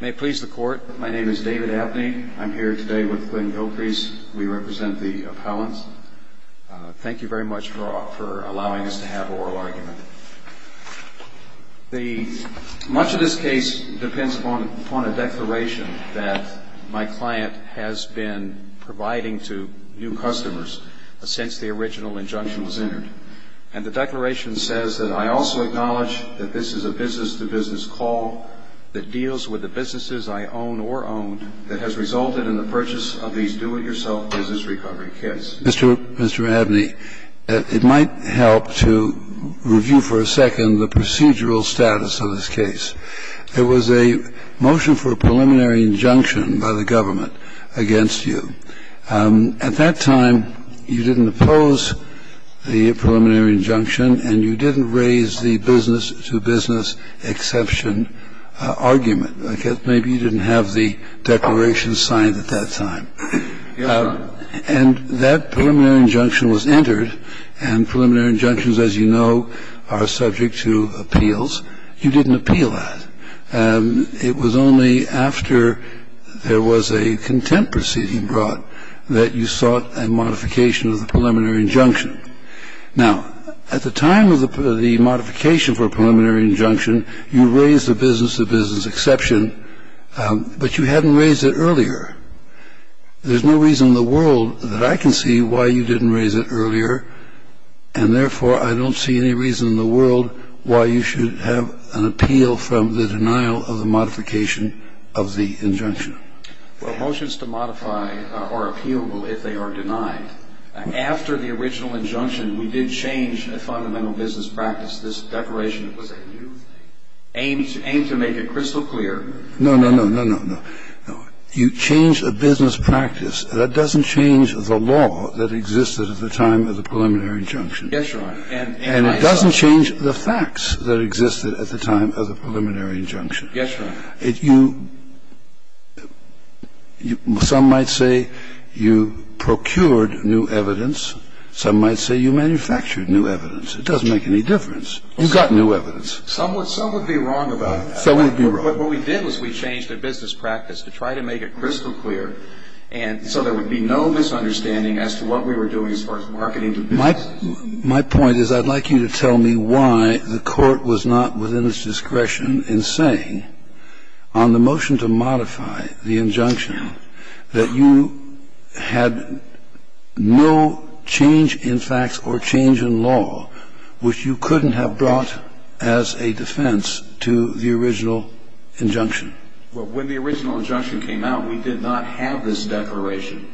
May it please the Court. My name is David Abney. I'm here today with Glenn Gilcrease. We represent the appellants. Thank you very much for allowing us to have an oral argument. Much of this case depends upon a declaration that my client has been providing to new customers since the original injunction was entered. And the declaration says that I also acknowledge that this is a business-to-business call that deals with the businesses I own or owned that has resulted in the purchase of these do-it-yourself business recovery kits. Mr. Abney, it might help to review for a second the procedural status of this case. There was a motion for a preliminary injunction by the government against you. At that time, you didn't oppose the preliminary injunction, and you didn't raise the business-to-business exception argument. Maybe you didn't have the declaration signed at that time. And that preliminary injunction was entered, and preliminary injunctions, as you know, are subject to appeals. You didn't appeal that. It was only after there was a contempt proceeding brought that you sought a modification of the preliminary injunction. Now, at the time of the modification for a preliminary injunction, you raised the business-to-business exception, but you hadn't raised it earlier. There's no reason in the world that I can see why you didn't raise it earlier, and, therefore, I don't see any reason in the world why you should have an appeal from the denial of the modification of the injunction. Well, motions to modify are appealable if they are denied. After the original injunction, we did change a fundamental business practice. This declaration was a new thing aimed to make it crystal clear. No, no, no, no, no, no. You changed a business practice. That doesn't change the law that existed at the time of the preliminary injunction. Yes, Your Honor. And it doesn't change the facts that existed at the time of the preliminary injunction. Yes, Your Honor. Some might say you procured new evidence. Some might say you manufactured new evidence. It doesn't make any difference. You got new evidence. Some would be wrong about that. Some would be wrong. But what we did was we changed a business practice to try to make it crystal clear, and so there would be no misunderstanding as to what we were doing as far as marketing the business. My point is I'd like you to tell me why the Court was not within its discretion in saying on the motion to modify the injunction that you had no change in facts or change in law, which you couldn't have brought as a defense to the original injunction. Well, when the original injunction came out, we did not have this declaration.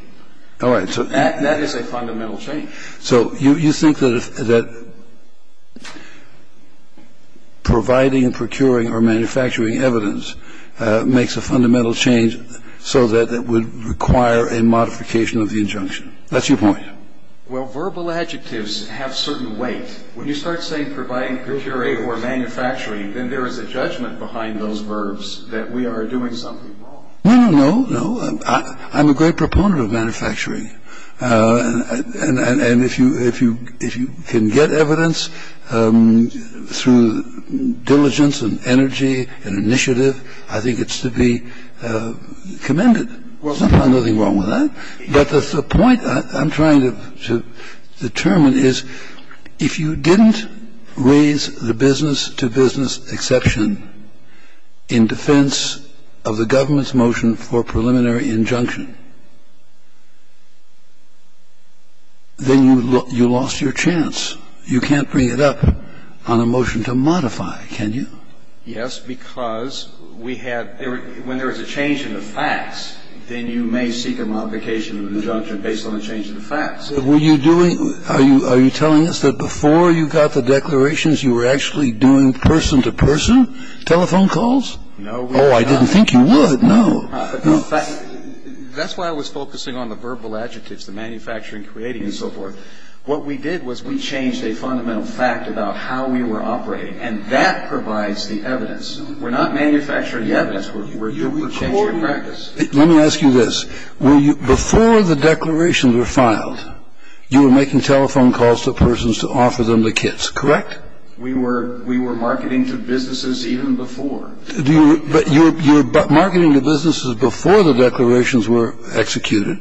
All right. So that is a fundamental change. So you think that providing and procuring or manufacturing evidence makes a fundamental change so that it would require a modification of the injunction. That's your point. Well, verbal adjectives have certain weight. When you start saying providing, procuring, or manufacturing, then there is a judgment behind those verbs that we are doing something wrong. No, no, no. I'm a great proponent of manufacturing, and if you can get evidence through diligence and energy and initiative, I think it's to be commended. There's nothing wrong with that. But the point I'm trying to determine is if you didn't raise the business-to-business exception in defense of the government's motion for preliminary injunction, then you lost your chance. You can't bring it up on a motion to modify, can you? Yes, because when there is a change in the facts, then you may seek a modification of an injunction based on a change in the facts. Are you telling us that before you got the declarations, you were actually doing person-to-person telephone calls? No, we were not. Oh, I didn't think you would. No. That's why I was focusing on the verbal adjectives, the manufacturing, creating, and so forth. What we did was we changed a fundamental fact about how we were operating, and that provides the evidence. We're not manufacturing the evidence. We're changing practice. Let me ask you this. Before the declarations were filed, you were making telephone calls to persons to offer them the kits, correct? We were marketing to businesses even before. But you were marketing to businesses before the declarations were executed,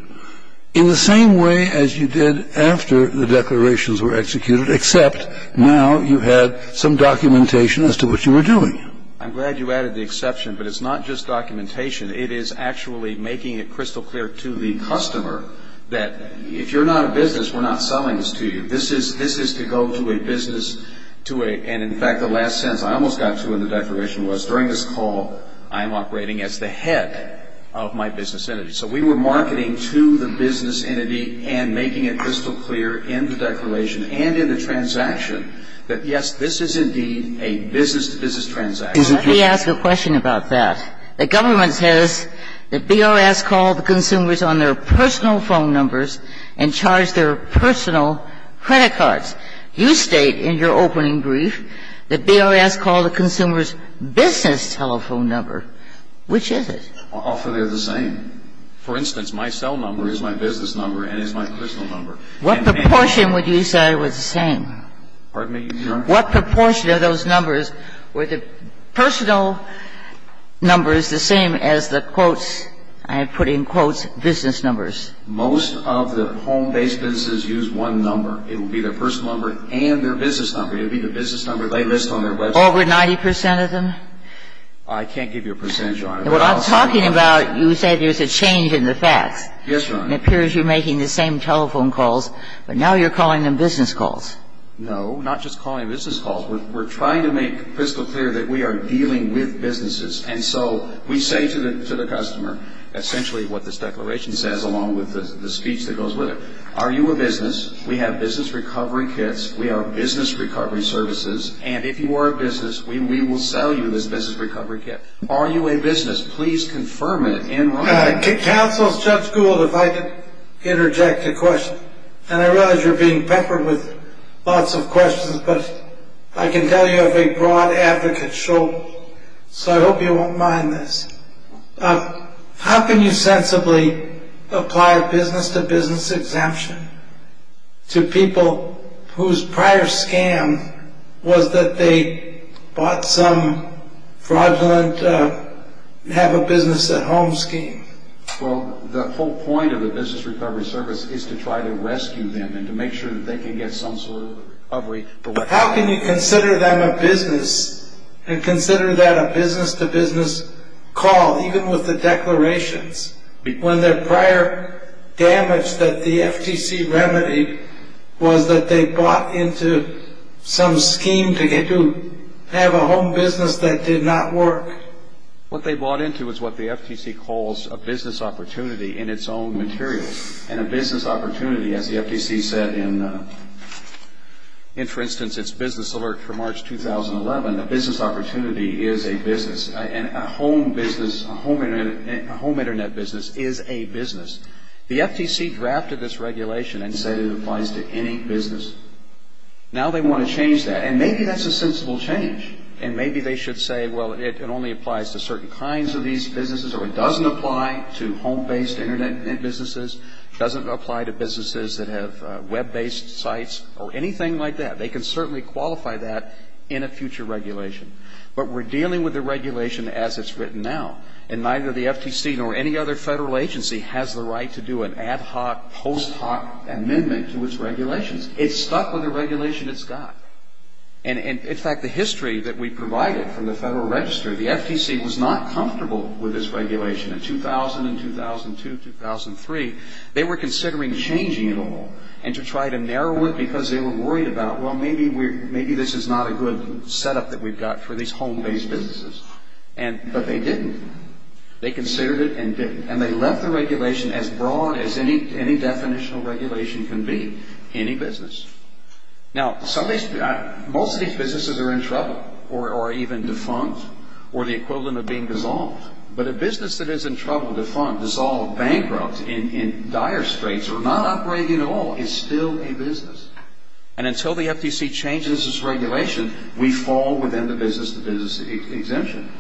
in the same way as you did after the declarations were executed, except now you had some documentation as to what you were doing. I'm glad you added the exception, but it's not just documentation. It is actually making it crystal clear to the customer that if you're not a business, we're not selling this to you. This is to go to a business to a ñ and, in fact, the last sentence I almost got to in the declaration was, during this call I'm operating as the head of my business entity. So we were marketing to the business entity and making it crystal clear in the transaction that, yes, this is indeed a business-to-business transaction. Let me ask a question about that. The government says that BRS called the consumers on their personal phone numbers and charged their personal credit cards. You state in your opening brief that BRS called the consumers' business telephone number. Which is it? Often they're the same. For instance, my cell number is my business number and is my crystal number. What proportion would you say was the same? Pardon me, Your Honor? What proportion of those numbers were the personal numbers the same as the, I put in quotes, business numbers? Most of the home-based businesses use one number. It would be their personal number and their business number. It would be the business number they list on their website. Over 90 percent of them? I can't give you a percentage, Your Honor. What I'm talking about, you said there's a change in the facts. Yes, Your Honor. It appears you're making the same telephone calls, but now you're calling them business calls. No, not just calling business calls. We're trying to make crystal clear that we are dealing with businesses. And so we say to the customer essentially what this declaration says along with the speech that goes with it. Are you a business? We have business recovery kits. We are business recovery services. And if you are a business, we will sell you this business recovery kit. Are you a business? Please confirm it in writing. Counsel, Judge Gould, if I could interject a question. And I realize you're being peppered with lots of questions, but I can tell you I have a broad advocate shoulder, so I hope you won't mind this. How can you sensibly apply a business-to-business exemption to people whose prior scam was that they bought some fraudulent have-a-business-at-home scheme? Well, the whole point of the business recovery service is to try to rescue them and to make sure that they can get some sort of recovery. How can you consider them a business and consider that a business-to-business call, even with the declarations, when their prior damage that the FTC remedied was that they bought into some scheme to have a home business that did not work? What they bought into is what the FTC calls a business opportunity in its own material. And a business opportunity, as the FTC said in, for instance, its business alert for March 2011, a business opportunity is a business. And a home business, a home Internet business is a business. The FTC drafted this regulation and said it applies to any business. Now they want to change that. And maybe that's a sensible change. And maybe they should say, well, it only applies to certain kinds of these businesses or it doesn't apply to home-based Internet businesses, doesn't apply to businesses that have web-based sites or anything like that. They can certainly qualify that in a future regulation. But we're dealing with the regulation as it's written now. And neither the FTC nor any other federal agency has the right to do an ad hoc, post hoc amendment to its regulations. It's stuck with the regulation it's got. And, in fact, the history that we provided from the Federal Register, the FTC was not comfortable with this regulation. In 2000 and 2002, 2003, they were considering changing it all and to try to narrow it because they were worried about, well, maybe this is not a good setup that we've got for these home-based businesses. But they didn't. They considered it and didn't. And they left the regulation as broad as any definitional regulation can be, any business. Now, most of these businesses are in trouble or are even defunct or the equivalent of being dissolved. But a business that is in trouble, defunct, dissolved, bankrupt in dire straits or not operating at all is still a business. And until the FTC changes its regulation, we fall within the business-to-business exemption.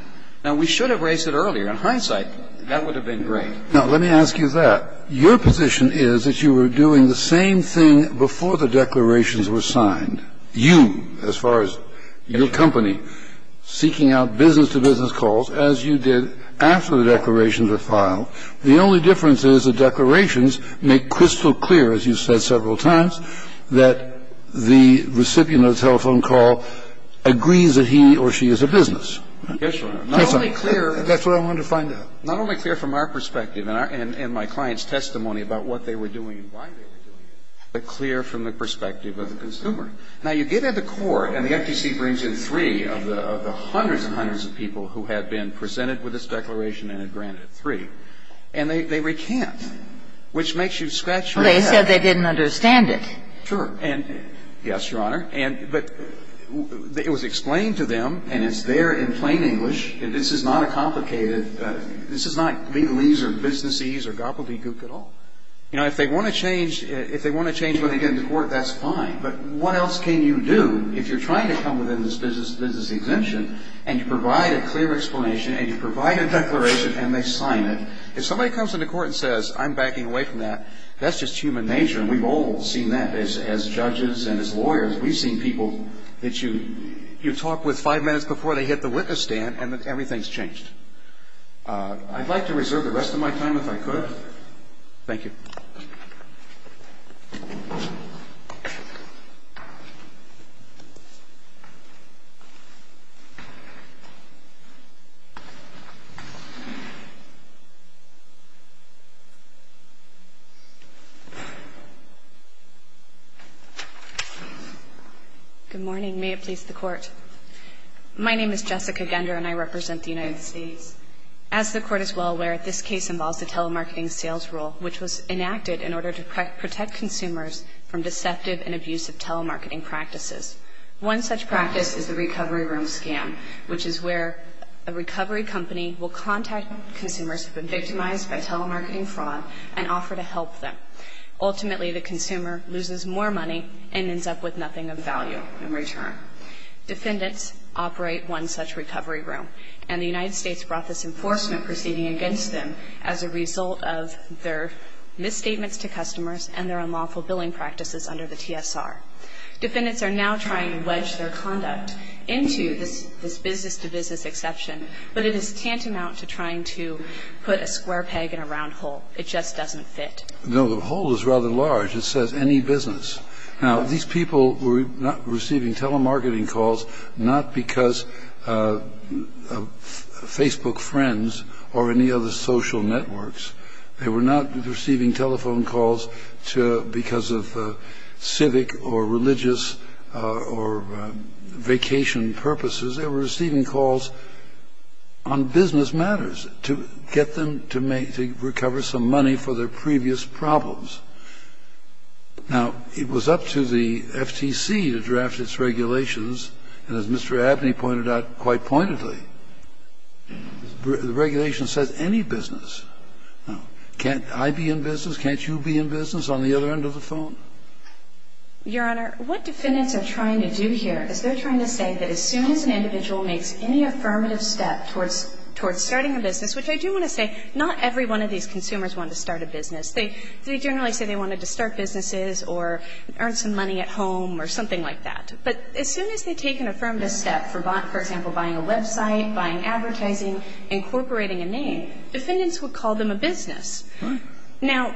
Now, we should have raised it earlier. In hindsight, that would have been great. Now, let me ask you that. Your position is that you were doing the same thing before the declarations were signed. You, as far as your company, seeking out business-to-business calls, as you did after the declarations were filed. The only difference is the declarations make crystal clear, as you've said several times, that the recipient of the telephone call agrees that he or she is a business. Yes, Your Honor. Yes, sir. That's what I wanted to find out. Not only clear from our perspective and my client's testimony about what they were doing and why they were doing it, but clear from the perspective of the consumer. Now, you get into court and the FTC brings in three of the hundreds and hundreds of people who had been presented with this declaration and had granted it three, and they recant, which makes you scratch your head. Well, they said they didn't understand it. Sure. Yes, Your Honor. But it was explained to them and it's there in plain English. This is not a complicated – this is not legalese or businessese or gobbledygook at all. You know, if they want to change – if they want to change what they get into court, that's fine. But what else can you do if you're trying to come within this business-to-business dimension and you provide a clear explanation and you provide a declaration and they sign it? If somebody comes into court and says, I'm backing away from that, that's just human nature and we've all seen that as judges and as lawyers. We've seen people that you talk with five minutes before they hit the witness stand and then everything's changed. I'd like to reserve the rest of my time if I could. Thank you. Good morning. May it please the Court. My name is Jessica Gender and I represent the United States. As the Court is well aware, this case involves a telemarketing sales rule which was enacted in order to protect consumers from deceptive and abusive telemarketing practices. One such practice is the recovery room scam, which is where a recovery company will contact consumers who have been victimized by telemarketing fraud and offer to help them. Ultimately, the consumer loses more money and ends up with nothing of value in return. Defendants operate one such recovery room and the United States brought this enforcement proceeding against them as a result of their misstatements to customers and their unlawful billing practices under the TSR. Defendants are now trying to wedge their conduct into this business-to-business exception, but it is tantamount to trying to put a square peg in a round hole. It just doesn't fit. No, the hole is rather large. It says any business. Now, these people were not receiving telemarketing calls not because of Facebook friends or any other social networks. They were not receiving telephone calls because of civic or religious or vacation purposes. They were receiving calls on business matters to get them to recover some money for their previous problems. Now, it was up to the FTC to draft its regulations, and as Mr. Abney pointed out quite pointedly, the regulation says any business. Now, can't I be in business? Can't you be in business on the other end of the phone? Your Honor, what defendants are trying to do here is they're trying to say that as soon as an individual makes any affirmative step towards starting a business, which I do want to say not every one of these consumers wanted to start a business. They generally say they wanted to start businesses or earn some money at home or something like that. But as soon as they take an affirmative step, for example, buying a website, buying advertising, incorporating a name, defendants would call them a business. Now,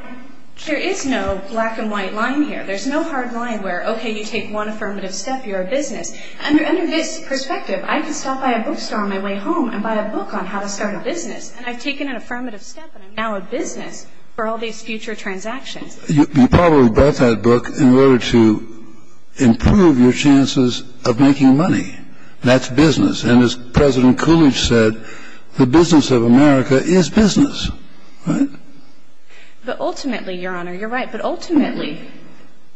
there is no black and white line here. There's no hard line where, okay, you take one affirmative step, you're a business. Under this perspective, I can stop by a bookstore on my way home and buy a book on how to start a business, and I've taken an affirmative step and I'm now a business for all these future transactions. You probably bought that book in order to improve your chances of making money. That's business. And as President Coolidge said, the business of America is business, right? But ultimately, Your Honor, you're right, but ultimately,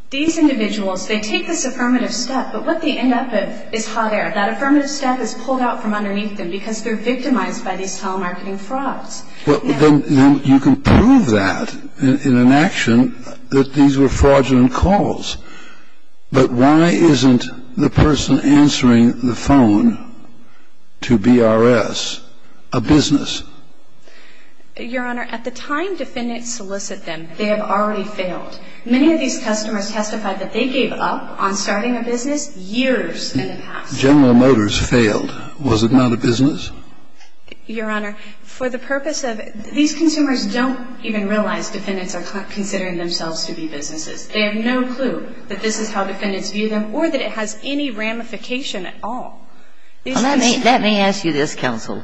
these individuals, they take this affirmative step, but what they end up with is hot air. That affirmative step is pulled out from underneath them because they're victimized by these telemarketing frauds. Well, then you can prove that in an action that these were fraudulent calls. But why isn't the person answering the phone to BRS a business? Your Honor, at the time defendants solicit them, they have already failed. Many of these customers testified that they gave up on starting a business years in the past. General Motors failed. Was it not a business? Your Honor, for the purpose of these consumers don't even realize defendants are considering themselves to be businesses. They have no clue that this is how defendants view them or that it has any ramification at all. Let me ask you this, counsel.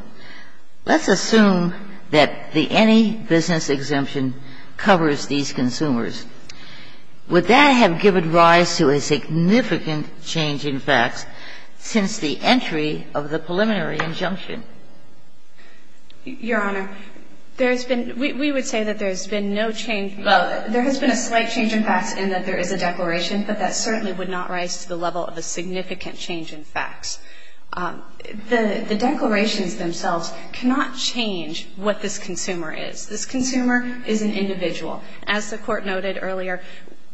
Let's assume that the any business exemption covers these consumers. Would that have given rise to a significant change in facts since the entry of the declaration? Your Honor, there has been we would say that there has been no change. Well, there has been a slight change in facts in that there is a declaration, but that certainly would not rise to the level of a significant change in facts. The declarations themselves cannot change what this consumer is. This consumer is an individual. As the Court noted earlier,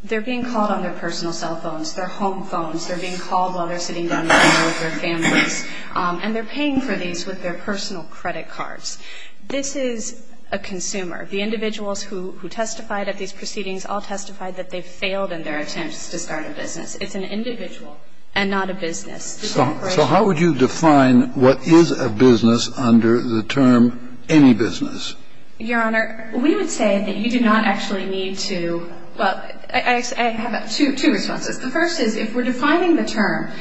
they're being called on their personal cell phones, their home phones. They're being called while they're sitting down with their families. And they're paying for these with their personal credit cards. This is a consumer. The individuals who testified at these proceedings all testified that they've failed in their attempts to start a business. It's an individual and not a business. So how would you define what is a business under the term any business? Your Honor, we would say that you do not actually need to, well, I have two responses. The first is if we're defining the term,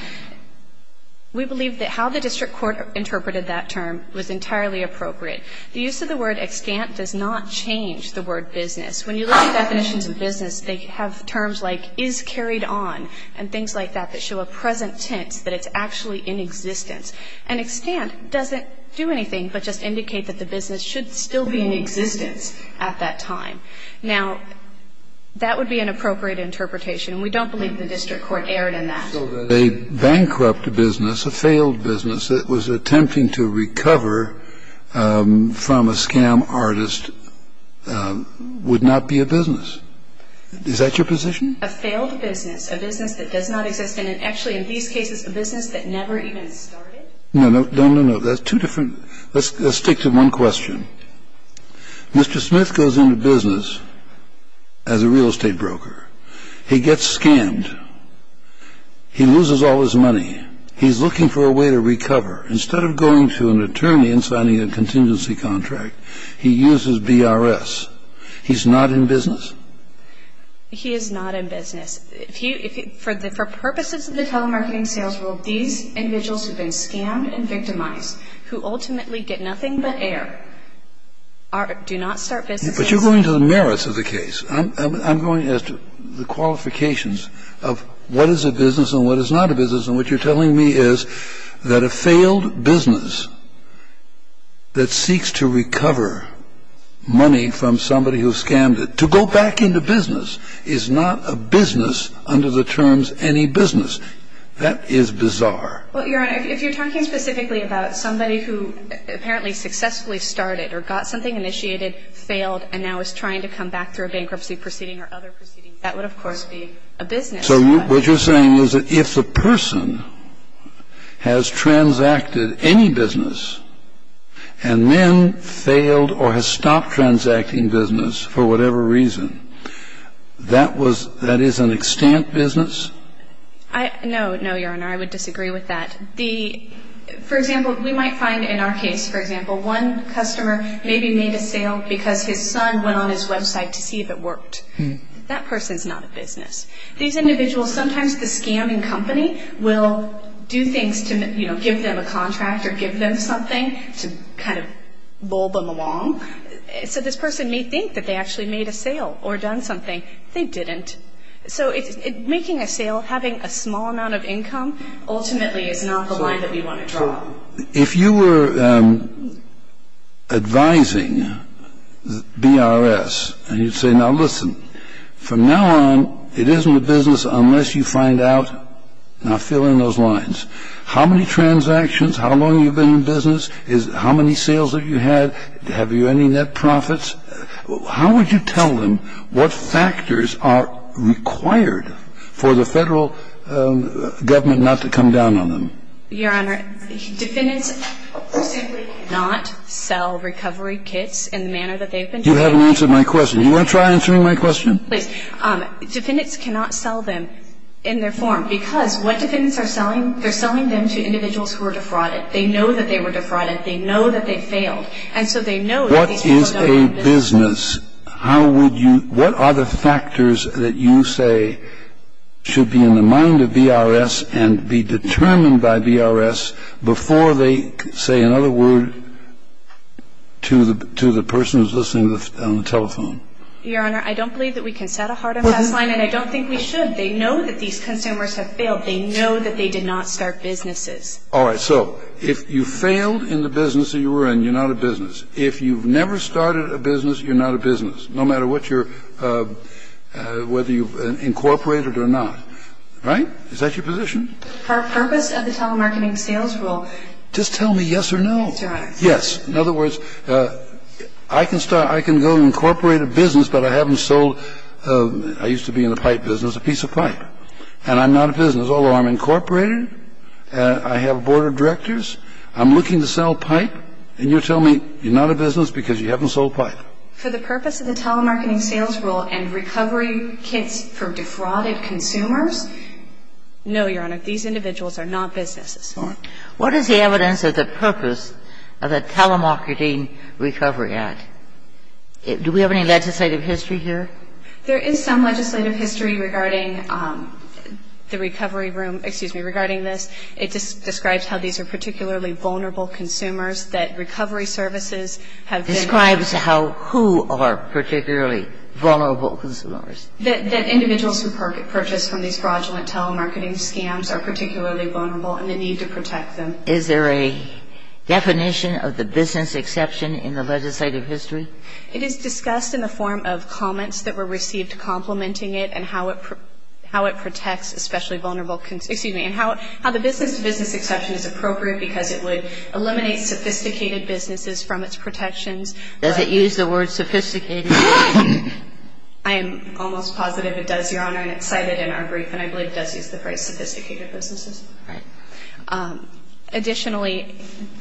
we believe that how the district court interpreted that term was entirely appropriate. The use of the word extant does not change the word business. When you look at definitions of business, they have terms like is carried on and things like that that show a present tense that it's actually in existence. An extant doesn't do anything but just indicate that the business should still be in existence at that time. Now, that would be an appropriate interpretation. We don't believe the district court erred in that. So a bankrupt business, a failed business that was attempting to recover from a scam artist would not be a business. Is that your position? A failed business, a business that does not exist, and actually in these cases, a business that never even started? No, no, no, no. That's two different. Let's stick to one question. Mr. Smith goes into business as a real estate broker. He gets scammed. He loses all his money. He's looking for a way to recover. Instead of going to an attorney and signing a contingency contract, he uses BRS. He's not in business? He is not in business. For purposes of the telemarketing sales rule, these individuals have been scammed and victimized, who ultimately get nothing but air, do not start businesses. But you're going to the merits of the case. I'm going as to the qualifications of what is a business and what is not a business. And what you're telling me is that a failed business that seeks to recover money from somebody who scammed it, to go back into business, is not a business under the terms any business. That is bizarre. Well, Your Honor, if you're talking specifically about somebody who apparently successfully started or got something initiated, failed, and now is trying to come back through a bankruptcy proceeding or other proceedings, that would, of course, be a business. So what you're saying is that if the person has transacted any business and then failed or has stopped transacting business for whatever reason, that is an extant business? No. No, Your Honor. I would disagree with that. For example, we might find in our case, for example, one customer maybe made a sale because his son went on his website to see if it worked. That person is not a business. These individuals, sometimes the scamming company will do things to, you know, give them a contract or give them something to kind of bulb them along. So this person may think that they actually made a sale or done something. They didn't. So making a sale, having a small amount of income, ultimately is not the line that we want to draw. If you were advising BRS and you'd say, now listen, from now on it isn't a business unless you find out, now fill in those lines, how many transactions, how long you've been in business, how many sales have you had, have you any net profits, how would you tell them what factors are required for the federal government not to come down on them? Your Honor, defendants simply cannot sell recovery kits in the manner that they've been doing. You haven't answered my question. Do you want to try answering my question? Please. Defendants cannot sell them in their form because what defendants are selling, they're selling them to individuals who are defrauded. They know that they were defrauded. They know that they failed. And so they know that these people don't have a business. What is a business? How would you – what are the factors that you say should be in the mind of BRS and be determined by BRS before they say another word to the person who's listening on the telephone? Your Honor, I don't believe that we can set a hard and fast line, and I don't think we should. They know that these consumers have failed. They know that they did not start businesses. All right. So if you failed in the business that you were in, you're not a business. If you've never started a business, you're not a business, no matter what your – whether you've incorporated or not. Right? Is that your position? For the purpose of the telemarketing sales rule – Just tell me yes or no. Your Honor. Yes. In other words, I can start – I can go and incorporate a business, but I haven't sold – I used to be in the pipe business, a piece of pipe. And I'm not a business. Although I'm incorporated, I have a board of directors, I'm looking to sell pipe, and you're telling me you're not a business because you haven't sold pipe. For the purpose of the telemarketing sales rule and recovery kits for defrauded consumers? No, Your Honor. These individuals are not businesses. All right. What is the evidence of the purpose of the Telemarketing Recovery Act? Do we have any legislative history here? There is some legislative history regarding the recovery room – excuse me, regarding It describes how these are particularly vulnerable consumers, that recovery services have been – It describes how who are particularly vulnerable consumers. That individuals who purchase from these fraudulent telemarketing scams are particularly vulnerable and the need to protect them. Is there a definition of the business exception in the legislative history? It is discussed in the form of comments that were received complimenting it and how it protects especially vulnerable – excuse me, and how the business exception is appropriate because it would eliminate sophisticated businesses from its protections. Does it use the word sophisticated? I am almost positive it does, Your Honor, and it's cited in our brief, and I believe it does use the phrase sophisticated businesses. Right. Additionally,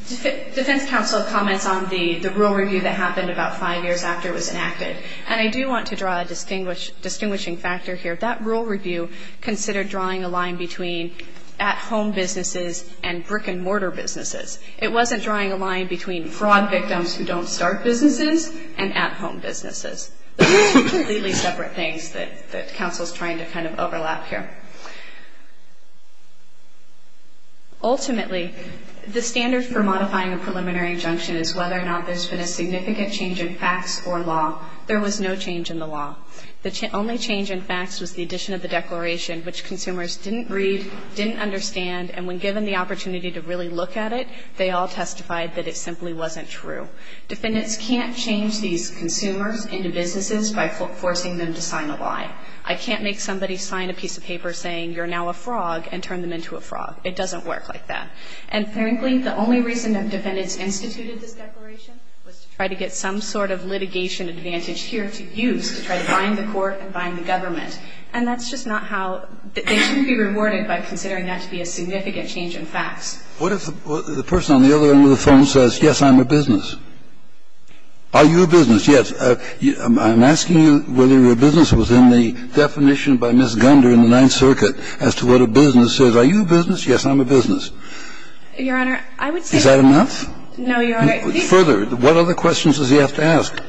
defense counsel comments on the rule review that happened about five years after it was enacted. And I do want to draw a distinguishing factor here. That rule review considered drawing a line between at-home businesses and brick-and-mortar businesses. It wasn't drawing a line between fraud victims who don't start businesses and at-home businesses. Those are two completely separate things that counsel is trying to kind of overlap here. Ultimately, the standard for modifying a preliminary injunction is whether or not there has been a significant change in facts or law. There was no change in the law. The only change in facts was the addition of the declaration, which consumers didn't read, didn't understand, and when given the opportunity to really look at it, they all testified that it simply wasn't true. Defendants can't change these consumers into businesses by forcing them to sign a lie. I can't make somebody sign a piece of paper saying you're now a frog and turn them into a frog. It doesn't work like that. And frankly, the only reason that defendants instituted this declaration was to try to get some sort of litigation advantage here to use to try to bind the court and bind the government. And that's just not how they can be rewarded by considering that to be a significant change in facts. What if the person on the other end of the phone says, yes, I'm a business? Are you a business? Yes. I'm asking you whether your business was in the definition by Ms. Gunder in the Ninth Circuit as to what a business is. Are you a business? Yes, I'm a business. Your Honor, I would say no. Is that enough? No, Your Honor. Further, what other questions does he have to ask?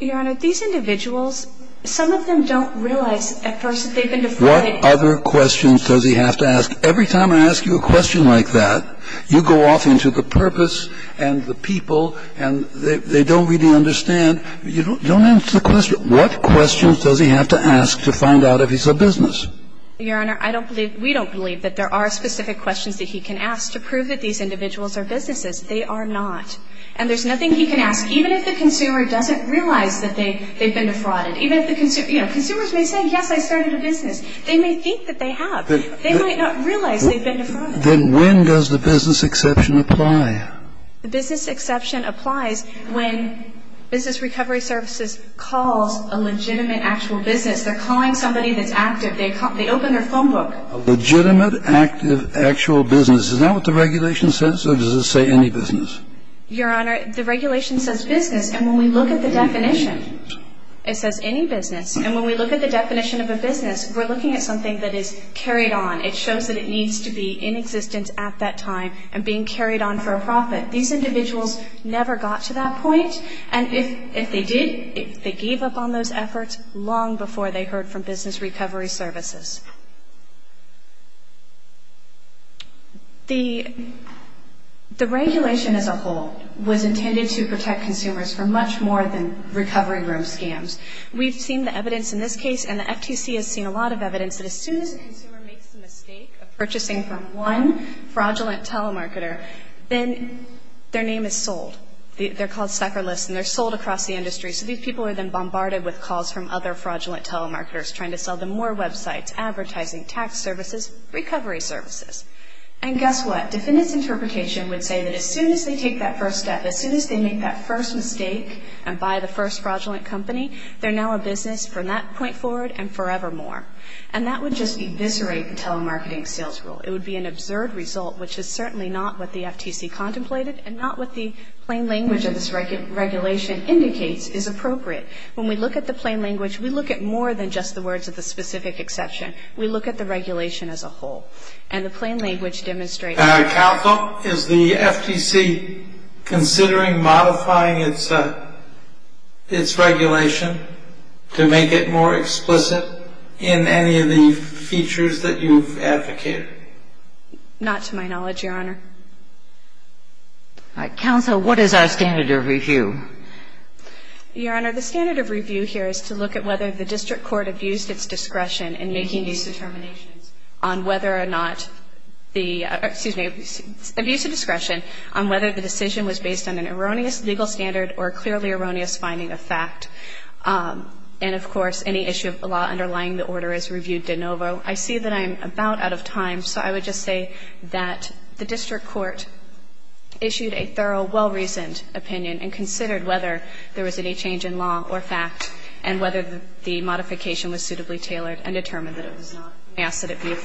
Your Honor, these individuals, some of them don't realize at first that they've been defrauded. What other questions does he have to ask? Every time I ask you a question like that, you go off into the purpose and the people and they don't really understand. You don't answer the question. What questions does he have to ask to find out if he's a business? Your Honor, I don't believe we don't believe that there are specific questions that he can ask to prove that these individuals are businesses. They are not. And there's nothing he can ask, even if the consumer doesn't realize that they've been defrauded. Even if the consumer, you know, consumers may say, yes, I started a business. They may think that they have. They might not realize they've been defrauded. Then when does the business exception apply? The business exception applies when Business Recovery Services calls a legitimate actual business. They're calling somebody that's active. They open their phone book. A legitimate, active, actual business. Is that what the regulation says or does it say any business? Your Honor, the regulation says business. And when we look at the definition, it says any business. And when we look at the definition of a business, we're looking at something that is carried on. It shows that it needs to be in existence at that time and being carried on for a profit. These individuals never got to that point. And if they did, if they gave up on those efforts long before they heard from Business Recovery Services. The regulation as a whole was intended to protect consumers from much more than recovery room scams. We've seen the evidence in this case and the FTC has seen a lot of evidence that as soon as a consumer makes the mistake of purchasing from one fraudulent telemarketer, then their name is sold. They're called sucker lists and they're sold across the industry. So these people are then bombarded with calls from other fraudulent telemarketers trying to sell them more websites, advertising, tax services, recovery services. And guess what? Defendant's interpretation would say that as soon as they take that first step, as soon as they make that first mistake and buy the first fraudulent company, they're now a business from that point forward and forevermore. And that would just eviscerate the telemarketing sales rule. It would be an absurd result, which is certainly not what the FTC contemplated and not what the plain language of this regulation indicates is appropriate. When we look at the plain language, we look at more than just the words of the specific exception. We look at the regulation as a whole. And the plain language demonstrates that. Counsel, is the FTC considering modifying its regulation to make it more explicit in any of the features that you've advocated? Not to my knowledge, Your Honor. Counsel, what is our standard of review? Your Honor, the standard of review here is to look at whether the district court abused its discretion in making these determinations on whether or not the – excuse me – abused its discretion on whether the decision was based on an erroneous legal standard or a clearly erroneous finding of fact. And, of course, any issue of the law underlying the order is reviewed de novo. I see that I'm about out of time, so I would just say that the district court issued a thorough, well-reasoned opinion and considered whether there was any change in law or fact and whether the modification was suitably tailored and determined that it was not an acid abuse.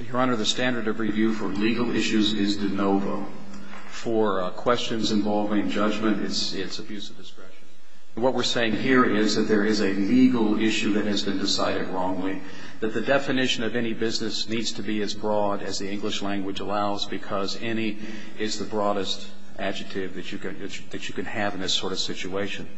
Your Honor, the standard of review for legal issues is de novo. For questions involving judgment, it's abuse of discretion. What we're saying here is that there is a legal issue that has been decided wrongly, that the definition of any business needs to be as broad as the English language allows because any is the broadest adjective that you can have in this sort of situation.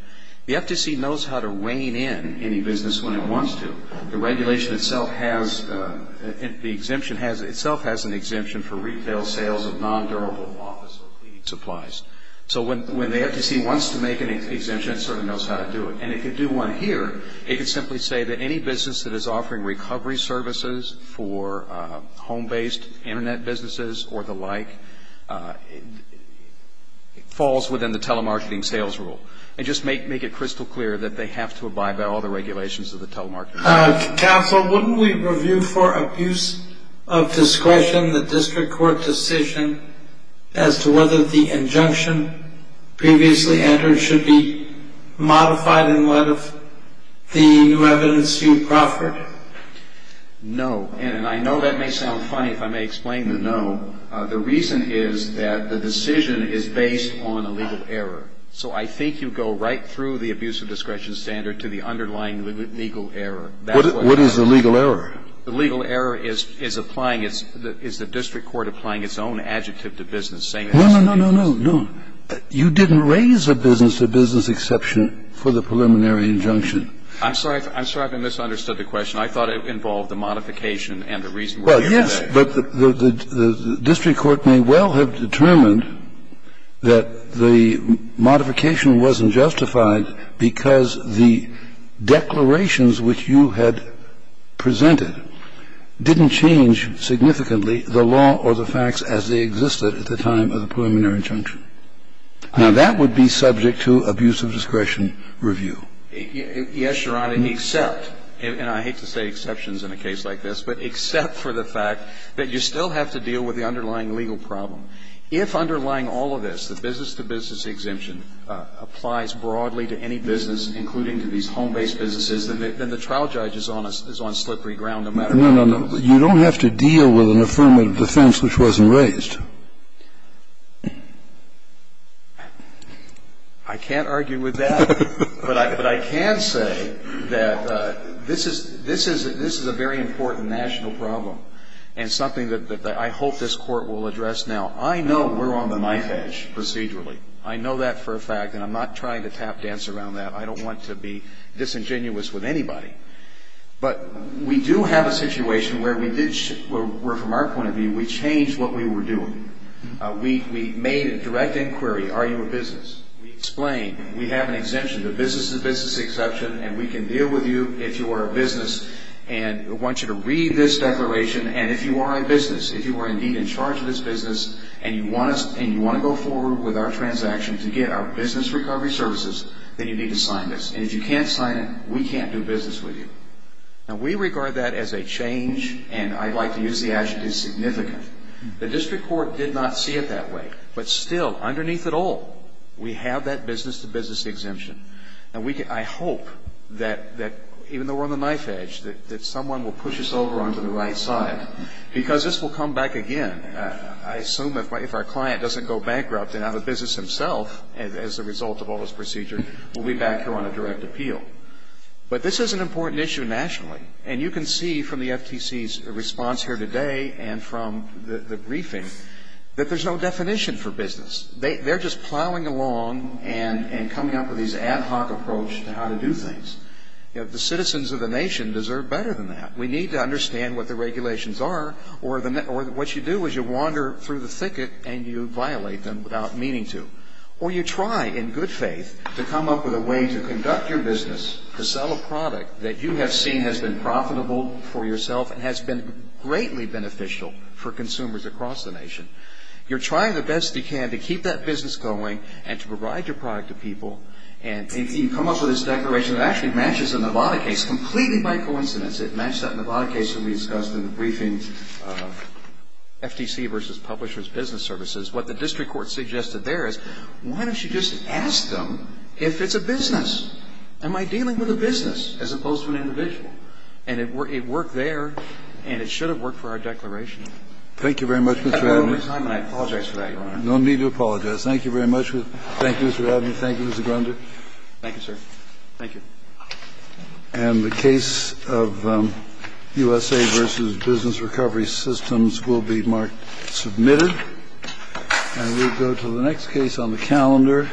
The FTC knows how to rein in any business when it wants to. The regulation itself has – the exemption has – itself has an exemption for retail sales of non-durable office or cleaning supplies. So when the FTC wants to make an exemption, it sort of knows how to do it. And it could do one here. It could simply say that any business that is offering recovery services for home-based Internet businesses or the like falls within the telemarketing sales rule and just make it crystal clear that they have to abide by all the regulations of the telemarketing. Counsel, wouldn't we review for abuse of discretion the district court decision as to whether the injunction previously entered should be modified in light of the new evidence you proffered? No. And I know that may sound funny if I may explain the no. The reason is that the decision is based on a legal error. So I think you go right through the abuse of discretion standard to the underlying legal error. What is the legal error? The legal error is applying its – is the district court applying its own adjective to business, saying it's a business. No, no, no, no, no. You didn't raise a business-to-business exception for the preliminary injunction. I'm sorry. I'm sorry if I misunderstood the question. I thought it involved the modification and the reason we're here today. Well, yes, but the district court may well have determined that the modification wasn't justified because the declarations which you had presented didn't change significantly the law or the facts as they existed at the time of the preliminary injunction. Now, that would be subject to abuse of discretion review. Yes, Your Honor, except – and I hate to say exceptions in a case like this, but except for the fact that you still have to deal with the underlying legal problem. If underlying all of this, the business-to-business exemption applies broadly to any business, including to these home-based businesses, then the trial judge is on slippery ground no matter what. No, no, no. You don't have to deal with an affirmative defense which wasn't raised. I can't argue with that. But I can say that this is a very important national problem and something that I hope this Court will address now. I know we're on the knife edge procedurally. I know that for a fact, and I'm not trying to tap dance around that. I don't want to be disingenuous with anybody. But we do have a situation where we did – where from our point of view, we changed what we were doing. We made a direct inquiry. Are you a business? We explained. We have an exemption to business-to-business exception, and we can deal with you if you are a business and want you to read this declaration. And if you are a business, if you are indeed in charge of this business and you want to go forward with our transaction to get our business recovery services, then you need to sign this. And if you can't sign it, we can't do business with you. Now, we regard that as a change, and I'd like to use the adjective significant. The district court did not see it that way. But still, underneath it all, we have that business-to-business exemption. And I hope that even though we're on the knife edge, that someone will push us over onto the right side because this will come back again. I assume if our client doesn't go bankrupt and out of business himself as a result of all this procedure, we'll be back here on a direct appeal. But this is an important issue nationally. And you can see from the FTC's response here today and from the briefing that there's no definition for business. They're just plowing along and coming up with these ad hoc approach to how to do things. The citizens of the nation deserve better than that. We need to understand what the regulations are, or what you do is you wander through the thicket and you violate them without meaning to. Or you try, in good faith, to come up with a way to conduct your business, to sell a product that you have seen has been profitable for yourself and has been greatly beneficial for consumers across the nation. You're trying the best you can to keep that business going and to provide your product to people. And you come up with this declaration that actually matches a Nevada case completely by coincidence. It matched that Nevada case that we discussed in the briefing, FTC versus Publishers Business Services. What the district court suggested there is, why don't you just ask them if it's a business? Am I dealing with a business as opposed to an individual? And it worked there, and it should have worked for our declaration. Thank you very much, Mr. Abney. I apologize for that, Your Honor. No need to apologize. Thank you very much. Thank you, Mr. Abney. Thank you, Mr. Grunder. Thank you, sir. Thank you. And the case of USA versus Business Recovery Systems will be marked submitted. And we'll go to the next case on the calendar.